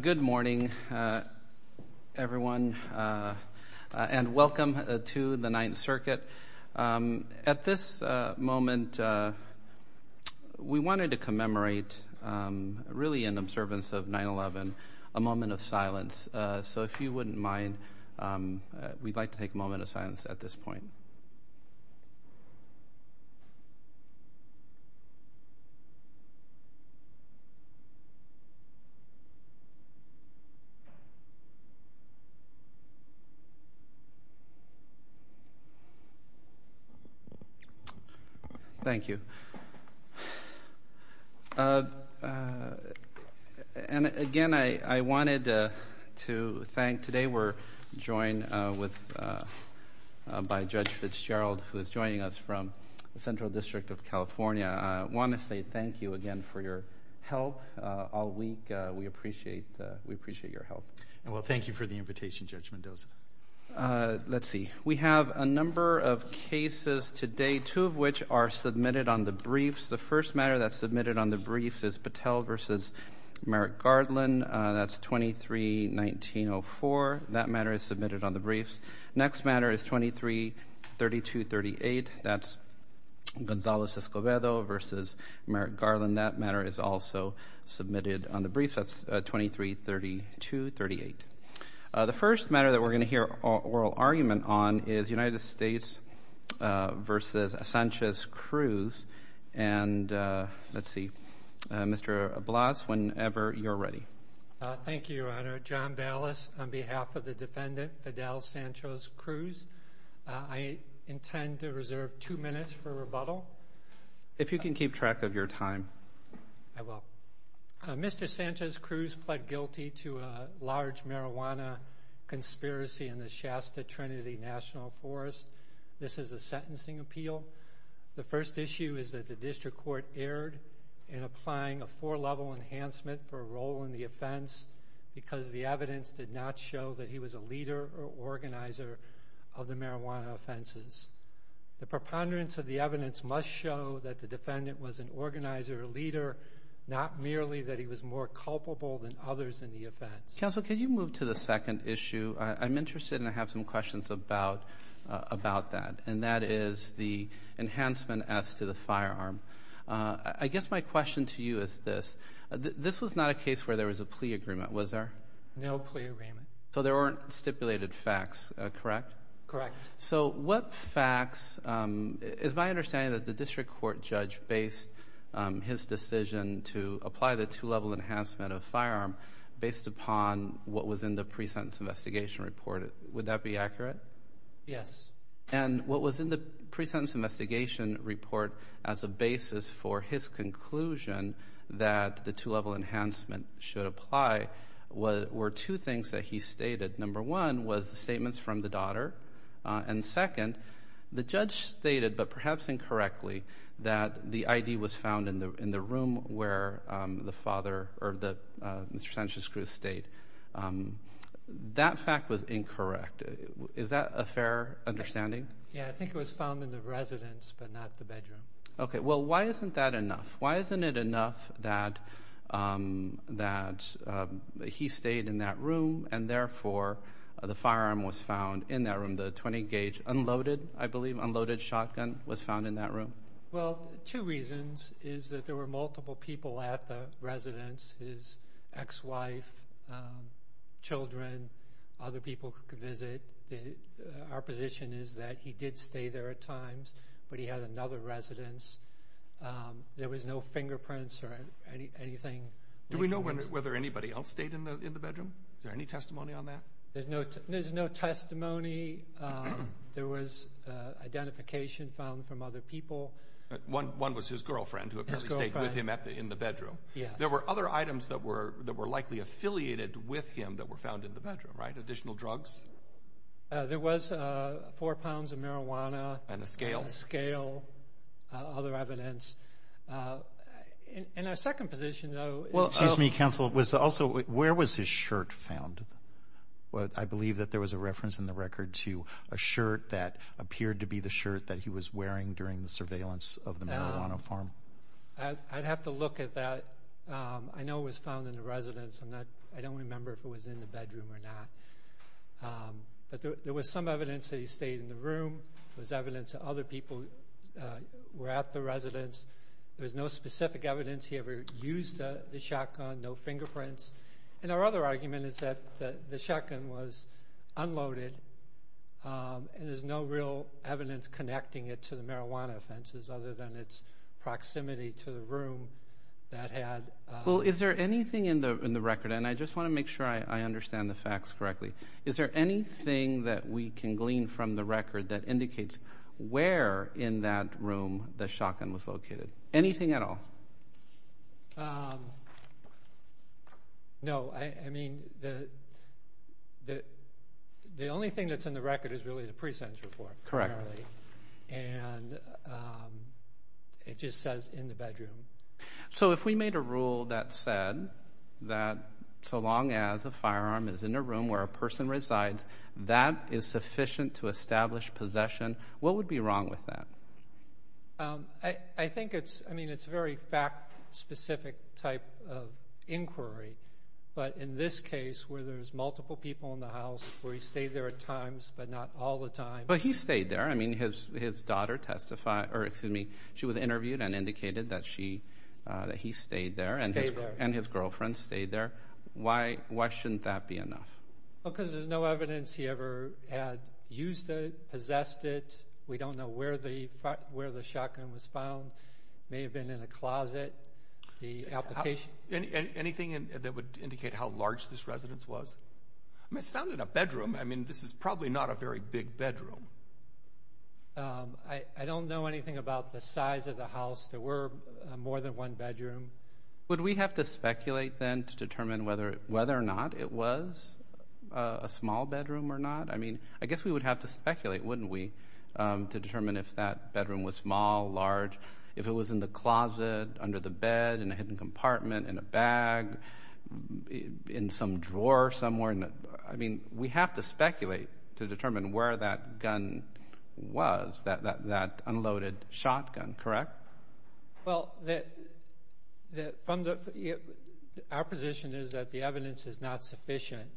Good morning, everyone, and welcome to the Ninth Circuit. At this moment we wanted to commemorate, really in observance of 9-11, a moment of silence. So if you wouldn't mind, we'd like to take a moment of silence at this point. Thank you. And, again, I wanted to thank—today we're joined by Judge Fitzgerald, who is joining us from the Central District of California. I want to say thank you again for your help all week. We appreciate your help. Judge Fitzgerald Well, thank you for the invitation, Judge Mendoza. Let's see. We have a number of cases today, two of which are submitted on the briefs. The first matter that's submitted on the briefs is Patel v. Merrick-Garland. That's 23-19-04. That matter is submitted on the briefs. Next matter is 23-32-38. That's Gonzalez-Escobedo v. Merrick-Garland. That matter is also submitted on the briefs. That's 23-32-38. The first matter that we're going to hear oral argument on is United States v. Sanchez-Cruz. And, let's see, Mr. Blas, whenever you're ready. Mr. Blas Thank you, Your Honor. John Ballas on behalf of the defendant, Fidel Sanchez-Cruz. I intend to reserve two minutes for rebuttal. Judge Mendoza If you can keep track of your time. Mr. Ballas I will. Mr. Sanchez-Cruz pled guilty to a large marijuana conspiracy in the Shasta Trinity National Forest. This is a sentencing appeal. The first issue is that the district court erred in applying a four level enhancement for a role in the offense because the evidence did not show that he was a leader or organizer of the marijuana offenses. The preponderance of the evidence must show that the defendant was an organizer or leader, not merely that he was more culpable than others in the offense. Judge Mendoza Counsel, can you move to the second issue? I'm interested and I have some questions about that. And that is the enhancement as to the firearm. I guess my question to you is this. This was not a case where there was a plea agreement, was there? Mr. Sanchez-Cruz No plea agreement. Judge Mendoza So there weren't stipulated facts, correct? Mr. Sanchez-Cruz Correct. So what facts, it's my understanding that the district court judge based his decision to apply the two level enhancement of firearm based upon what was in the pre-sentence investigation report. Would that be accurate? Yes. And what was in the pre-sentence investigation report as a basis for his conclusion that the two level enhancement should apply were two things that he stated. Number one was the statements from the daughter. And second, the judge stated, but perhaps incorrectly, that the ID was found in the room where the father, or Mr. Sanchez-Cruz stayed. That fact was incorrect. Is that a fair understanding? Yeah, I think it was found in the residence, but not the bedroom. Okay, well, why isn't that enough? Why isn't it enough that he stayed in that room and therefore the firearm was found in that room, the 20 gauge unloaded, I believe, unloaded shotgun was found in that room? Well, two reasons is that there were multiple people at the residence, his ex-wife, children, other people who could visit. Our position is that he did stay there at times, but he had another residence. There was no fingerprints or anything. Do we know whether anybody else stayed in the bedroom? Is there any testimony on that? There's no testimony. There was identification found from other people. One was his girlfriend, who apparently stayed with him in the bedroom. Yes. There were other items that were likely affiliated with him that were found in the bedroom, right? Additional drugs? There was four pounds of marijuana. And a scale. A scale, other evidence. In our second position, though... Excuse me, counsel. Where was his shirt found? I believe that there was a reference in the record to a shirt that appeared to be the shirt that he was wearing during the surveillance of the marijuana farm. I'd have to look at that. I know it was found in the residence. I don't remember if it was in the bedroom or not. But there was some evidence that he stayed in the room. There was evidence that other people were at the residence. There was no specific evidence he ever used the shotgun. No fingerprints. And our other argument is that the shotgun was unloaded and there's no real evidence connecting it to the marijuana offenses other than its proximity to the room that had... Well, is there anything in the record? And I just want to make sure I understand the facts correctly. Is there anything that we can glean from the record that indicates where in that room the shotgun was located? Anything at all? No, I mean, the only thing that's in the record is really the pre-sentence report. Correct. And it just says in the bedroom. So if we made a rule that said that so long as a firearm is in a room where a person resides, that is sufficient to establish possession. What would be wrong with that? I think it's, I mean, it's very fact specific type of inquiry. But in this case, where there's multiple people in the house, where he stayed there at times but not all the time. But he stayed there. I mean, his daughter testified, or excuse me, she was interviewed and indicated that she, that he stayed there and his girlfriend stayed there. Why shouldn't that be enough? Because there's no evidence he ever had used it, possessed it. We don't know where the shotgun was found. May have been in a closet. The application. Anything that would indicate how large this residence was? I mean, it's not in a bedroom. I mean, this is probably not a very big bedroom. I don't know anything about the size of the house. There were more than one bedroom. Would we have to speculate then to determine whether or not it was a small bedroom or not? I mean, I guess we would have to speculate, wouldn't we, to determine if that bedroom was small, large. If it was in the closet, under the bed, in a hidden compartment, in a bag, in some drawer somewhere. I mean, we have to speculate to determine where that gun was, that unloaded shotgun, correct? Well, our position is that the evidence is not sufficient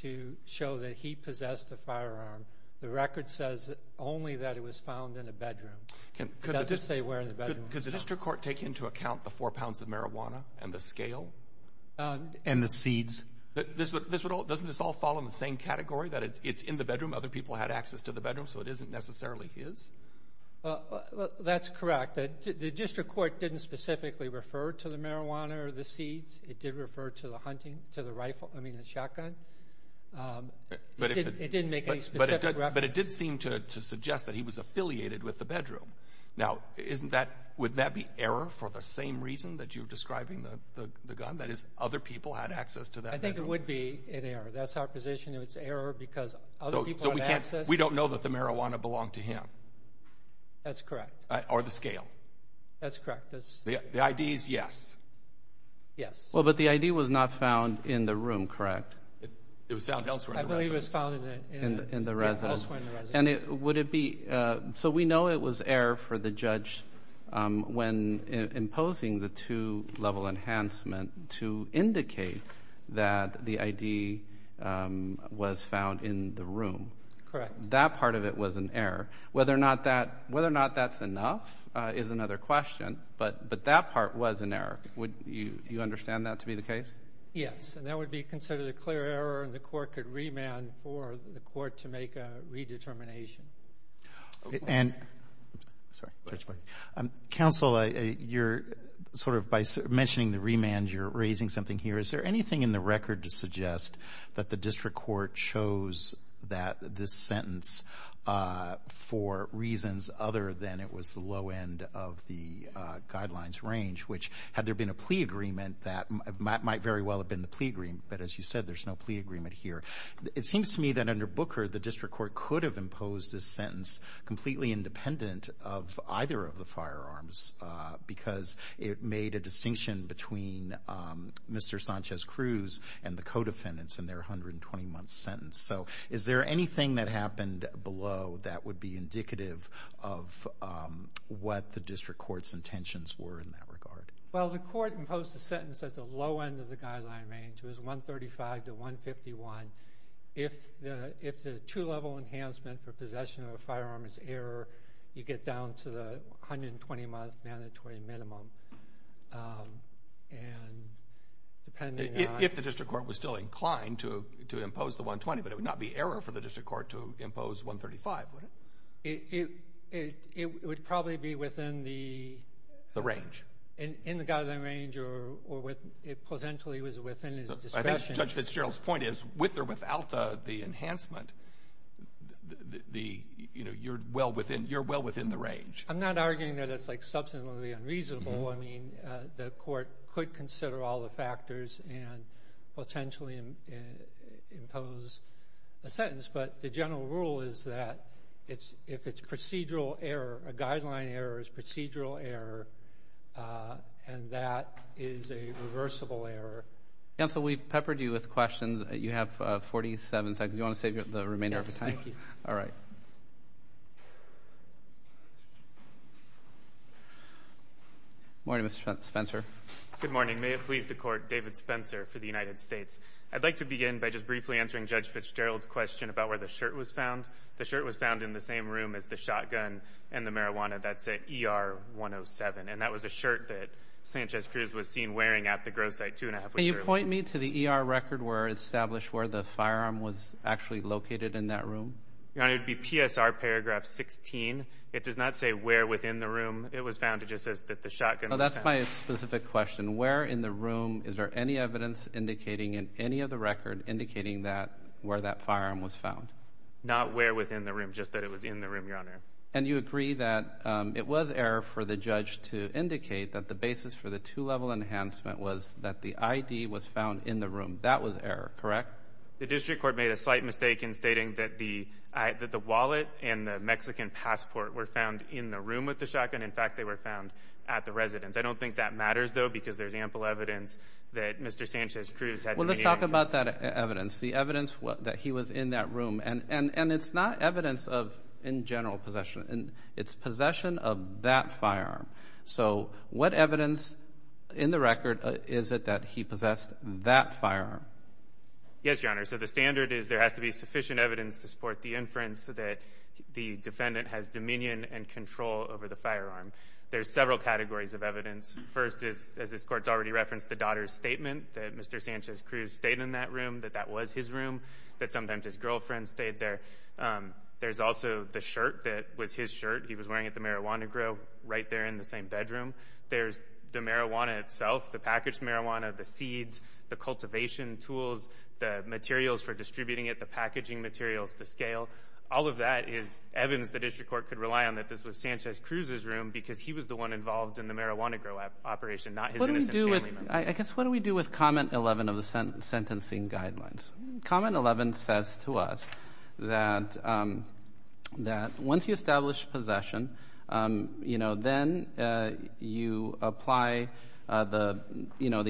to show that he possessed a firearm. The record says only that it was found in a bedroom. It doesn't say where in the bedroom it was found. Could the district court take into account the four pounds of marijuana and the scale? And the seeds? Doesn't this all fall in the same category, that it's in the bedroom, other people had access to the bedroom, so it isn't necessarily his? That's correct. The district court didn't specifically refer to the marijuana or the seeds. It did refer to the hunting, to the rifle, I mean, the shotgun. But it didn't make any specific reference. But it did seem to suggest that he was affiliated with the bedroom. Now, would that be error for the same reason that you're describing the gun, that is, other people had access to that bedroom? I think it would be an error. That's our position. It's error because other people had access. We don't know that the marijuana belonged to him. That's correct. Or the scale. That's correct. The ID is yes. Yes. Well, but the ID was not found in the room, correct? It was found elsewhere in the residence. I believe it was found in the residence. And would it be... So we know it was error for the judge when imposing the two-level enhancement to indicate that the ID was found in the room. That part of it was an error. Whether or not that's enough is another question. But that part was an error. Would you understand that to be the case? Yes, and that would be considered a clear error, and the court could remand for the court to make a redetermination. And, sorry, Judge Blake. Counsel, you're sort of, by mentioning the remand, you're raising something here. Is there anything in the record to suggest that the district court chose that, this sentence, for reasons other than it was the low end of the guidelines range? Which, had there been a plea agreement, that might very well have been the plea agreement. But as you said, there's no plea agreement here. It seems to me that under Booker, the district court could have imposed this sentence completely independent of either of the firearms because it made a distinction between Mr. Sanchez-Cruz and the co-defendants in their 120-month sentence. So, is there anything that happened below that would be indicative of what the district court's intentions were in that regard? Well, the court imposed the sentence at the low end of the guideline range. It was 135 to 151. If the two-level enhancement for possession of a firearm is error, you get down to the 120-month mandatory minimum. And, depending on- If the district court was still inclined to impose the 120, but it would not be error for the district court to impose 135, would it? It would probably be within the- The range. In the guideline range, or it potentially was within his discretion. Judge Fitzgerald's point is, with or without the enhancement, you're well within the range. I'm not arguing that it's substantively unreasonable. I mean, the court could consider all the factors and potentially impose a sentence. But the general rule is that if it's procedural error, a guideline error is procedural error, and that is a reversible error. Counsel, we've peppered you with questions. You have 47 seconds. Do you want to save the remainder of the time? All right. Morning, Mr. Spencer. Good morning. May it please the court, David Spencer for the United States. I'd like to begin by just briefly answering Judge Fitzgerald's question about where the shirt was found. The shirt was found in the same room as the shotgun and the marijuana. That's at ER 107, and that was a shirt that Sanchez-Cruz was seen wearing at the growth site two and a half weeks earlier. Can you point me to the ER record where it's established where the firearm was actually located in that room? Your Honor, it would be PSR paragraph 16. It does not say where within the room it was found. It just says that the shotgun was found. Oh, that's my specific question. Where in the room, is there any evidence indicating in any of the record indicating that where that firearm was found? Not where within the room, just that it was in the room, Your Honor. And you agree that it was error for the judge to indicate that the basis for the two-level enhancement was that the ID was found in the room. That was error, correct? The district court made a slight mistake in stating that the wallet and the Mexican passport were found in the room with the shotgun. In fact, they were found at the residence. I don't think that matters, though, because there's ample evidence that Mr. Sanchez-Cruz had been eating. Well, let's talk about that evidence, the evidence that he was in that room. And it's not evidence of in general possession. It's possession of that firearm. So what evidence in the record is it that he possessed that firearm? Yes, Your Honor, so the standard is there has to be sufficient evidence to support the inference that the defendant has dominion and control over the firearm. There's several categories of evidence. First is, as this court's already referenced, the daughter's statement, that Mr. Sanchez-Cruz stayed in that room, that that was his room. That sometimes his girlfriend stayed there. There's also the shirt that was his shirt. He was wearing at the Marijuana Grow right there in the same bedroom. There's the marijuana itself, the packaged marijuana, the seeds, the cultivation tools, the materials for distributing it, the packaging materials, the scale. All of that is evidence the district court could rely on that this was Sanchez-Cruz's room because he was the one involved in the Marijuana Grow operation, not his innocent family members. I guess what do we do with comment 11 of the sentencing guidelines? Comment 11 says to us that once you establish possession, then you apply the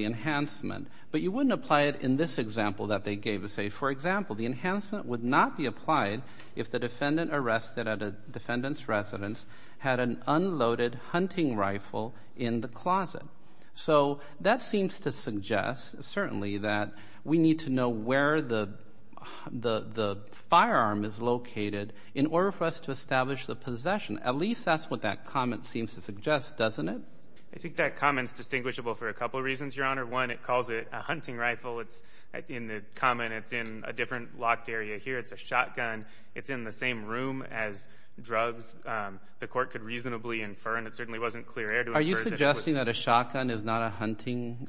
enhancement, but you wouldn't apply it in this example that they gave us. For example, the enhancement would not be applied if the defendant arrested at a defendant's residence had an unloaded hunting rifle in the closet. So that seems to suggest certainly that we need to know where the firearm is located in order for us to establish the possession. At least that's what that comment seems to suggest, doesn't it? I think that comment is distinguishable for a couple of reasons, Your Honor. One, it calls it a hunting rifle. It's in the common. It's in a different locked area here. It's a shotgun. It's in the same room as drugs. The court could reasonably infer, and it certainly wasn't clear air to infer. Are you suggesting that a shotgun is not a hunting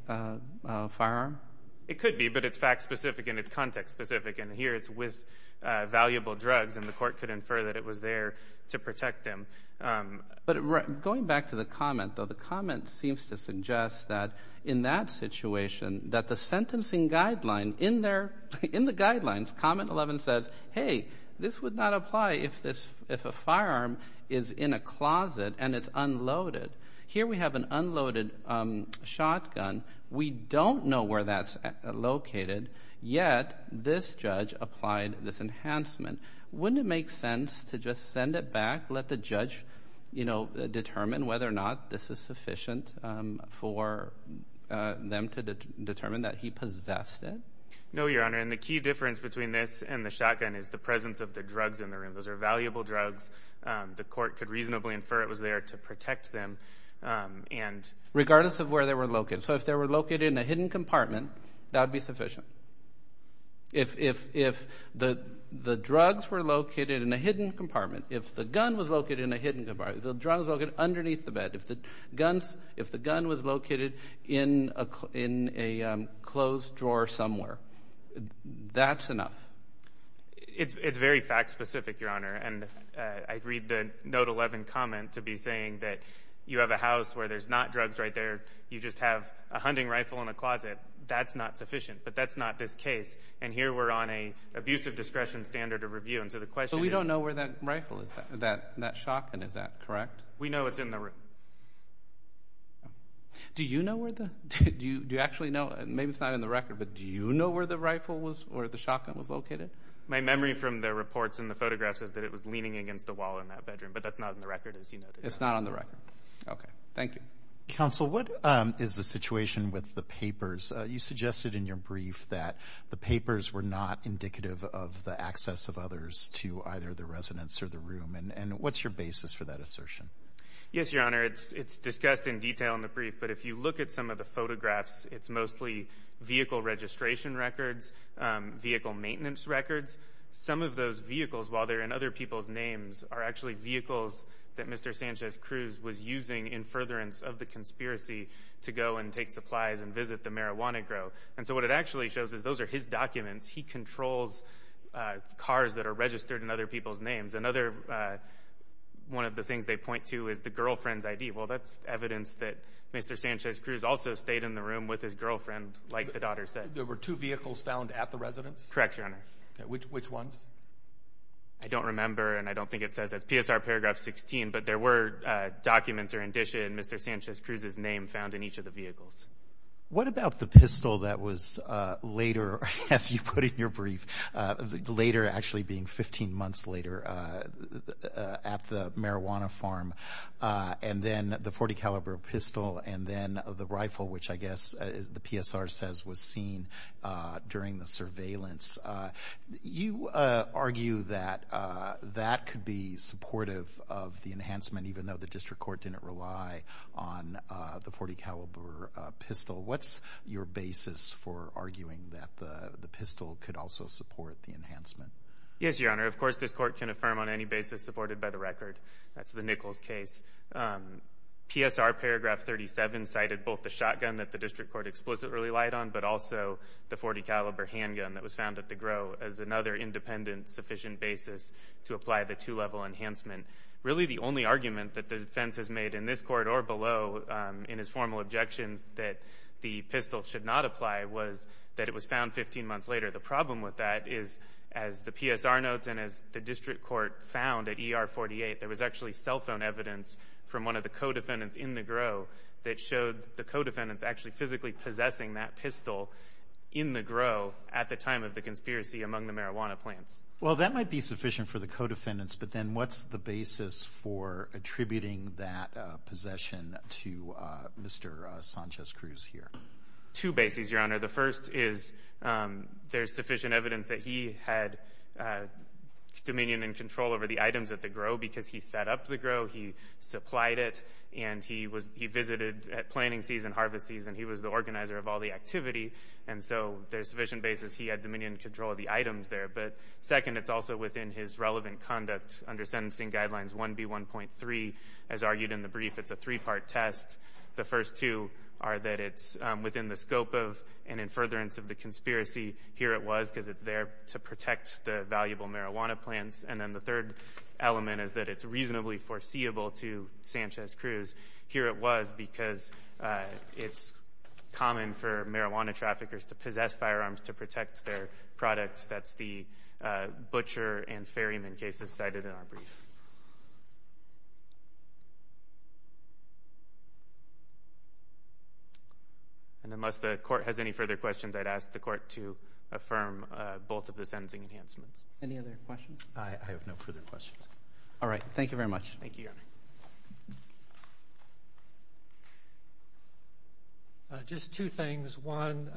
firearm? It could be, but it's fact-specific and it's context-specific, and here it's with valuable drugs and the court could infer that it was there to protect them. But going back to the comment, though, the comment seems to suggest that in that situation, that the sentencing guideline in there, in the guidelines, comment 11 says, hey, this would not apply if a firearm is in a closet and it's unloaded. Here we have an unloaded shotgun. We don't know where that's located, yet this judge applied this enhancement. Wouldn't it make sense to just send it back, let the judge determine whether or not this is sufficient for them to determine that he possessed it? No, Your Honor, and the key difference between this and the shotgun is the presence of the drugs in the room. Those are valuable drugs. The court could reasonably infer it was there to protect them. Regardless of where they were located. So if they were located in a hidden compartment, that would be sufficient. If the drugs were located in a hidden compartment, if the gun was located in a hidden compartment, the drugs were located underneath the bed. If the gun was located in a closed drawer somewhere, that's enough. It's very fact specific, Your Honor, and I read the note 11 comment to be saying that you have a house where there's not drugs right there, you just have a hunting rifle in a closet, that's not sufficient, but that's not this case, and here we're on an abusive discretion standard of review, and so the question is. But we don't know where that rifle is, that shotgun, is that correct? We know it's in the room. Do you know where the, do you actually know, maybe it's not in the record, but do you know where the rifle was or the shotgun was located? My memory from the reports and the photographs is that it was leaning against a wall in that bedroom, but that's not in the record, as you noted. It's not on the record. Okay. Thank you. Counsel, what is the situation with the papers? You suggested in your brief that the papers were not indicative of the access of others to either the residence or the room, and what's your basis for that assertion? Yes, Your Honor, it's discussed in detail in the brief, but if you look at some of the vehicle records, vehicle maintenance records, some of those vehicles, while they're in other people's names, are actually vehicles that Mr. Sanchez-Cruz was using in furtherance of the conspiracy to go and take supplies and visit the marijuana grow. And so what it actually shows is those are his documents. He controls cars that are registered in other people's names. Another, one of the things they point to is the girlfriend's ID. Well, that's evidence that Mr. Sanchez-Cruz also stayed in the room with his girlfriend, like the daughter said. So there were two vehicles found at the residence? Correct, Your Honor. Okay. Which ones? I don't remember, and I don't think it says, that's PSR paragraph 16, but there were documents or indicia in Mr. Sanchez-Cruz's name found in each of the vehicles. What about the pistol that was later, as you put in your brief, later actually being 15 months later, at the marijuana farm, and then the .40 caliber pistol, and then the rifle, which I guess the PSR says was seen during the surveillance. You argue that that could be supportive of the enhancement, even though the district court didn't rely on the .40 caliber pistol. What's your basis for arguing that the pistol could also support the enhancement? Yes, Your Honor. Of course, this court can affirm on any basis supported by the record. That's the Nichols case. PSR paragraph 37 cited both the shotgun that the district court explicitly relied on, but also the .40 caliber handgun that was found at the Gros as another independent sufficient basis to apply the two-level enhancement. Really the only argument that the defense has made in this court or below in his formal objections that the pistol should not apply was that it was found 15 months later. The problem with that is, as the PSR notes and as the district court found at ER 48, there was actually cell phone evidence from one of the co-defendants in the Gros that showed the co-defendants actually physically possessing that pistol in the Gros at the time of the conspiracy among the marijuana plants. Well, that might be sufficient for the co-defendants, but then what's the basis for attributing that possession to Mr. Sanchez-Cruz here? Two bases, Your Honor. The first is there's sufficient evidence that he had dominion and control over the items at the Gros because he set up the Gros, he supplied it, and he visited at planting season, harvest season. He was the organizer of all the activity, and so there's sufficient basis he had dominion and control of the items there. But second, it's also within his relevant conduct under Sentencing Guidelines 1B1.3. As argued in the brief, it's a three-part test. The first two are that it's within the scope of an in furtherance of the conspiracy. Here it was because it's there to protect the valuable marijuana plants. And then the third element is that it's reasonably foreseeable to Sanchez-Cruz. Here it was because it's common for marijuana traffickers to possess firearms to protect their products. That's the Butcher and Ferryman case that's cited in our brief. And unless the Court has any further questions, I'd ask the Court to affirm both of the sentencing enhancements. Any other questions? I have no further questions. All right. Thank you very much. Thank you, Your Honor. Just two things. One,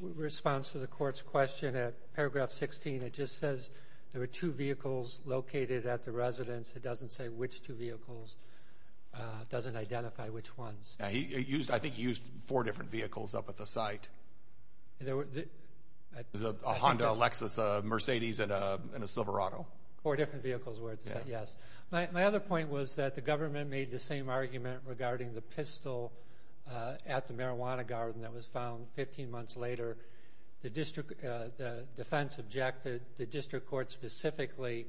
response to the Court's question at paragraph 16, it just says there were two vehicles located at the residence. It doesn't say which two vehicles. It doesn't identify which ones. I think he used four different vehicles up at the site. There was a Honda, a Lexus, a Mercedes, and a Silverado. Four different vehicles were at the site, yes. My other point was that the government made the same argument regarding the pistol at the marijuana garden that was found 15 months later. The defense objected. The district court specifically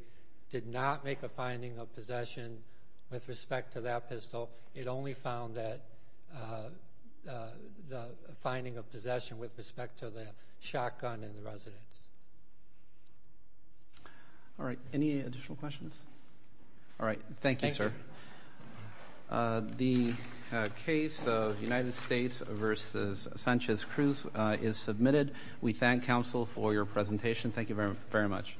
did not make a finding of possession with respect to that pistol. It only found that finding of possession with respect to the shotgun in the residence. All right. Any additional questions? All right. Thank you, sir. The case of United States v. Sanchez-Cruz is submitted. We thank counsel for your presentation. Thank you very much.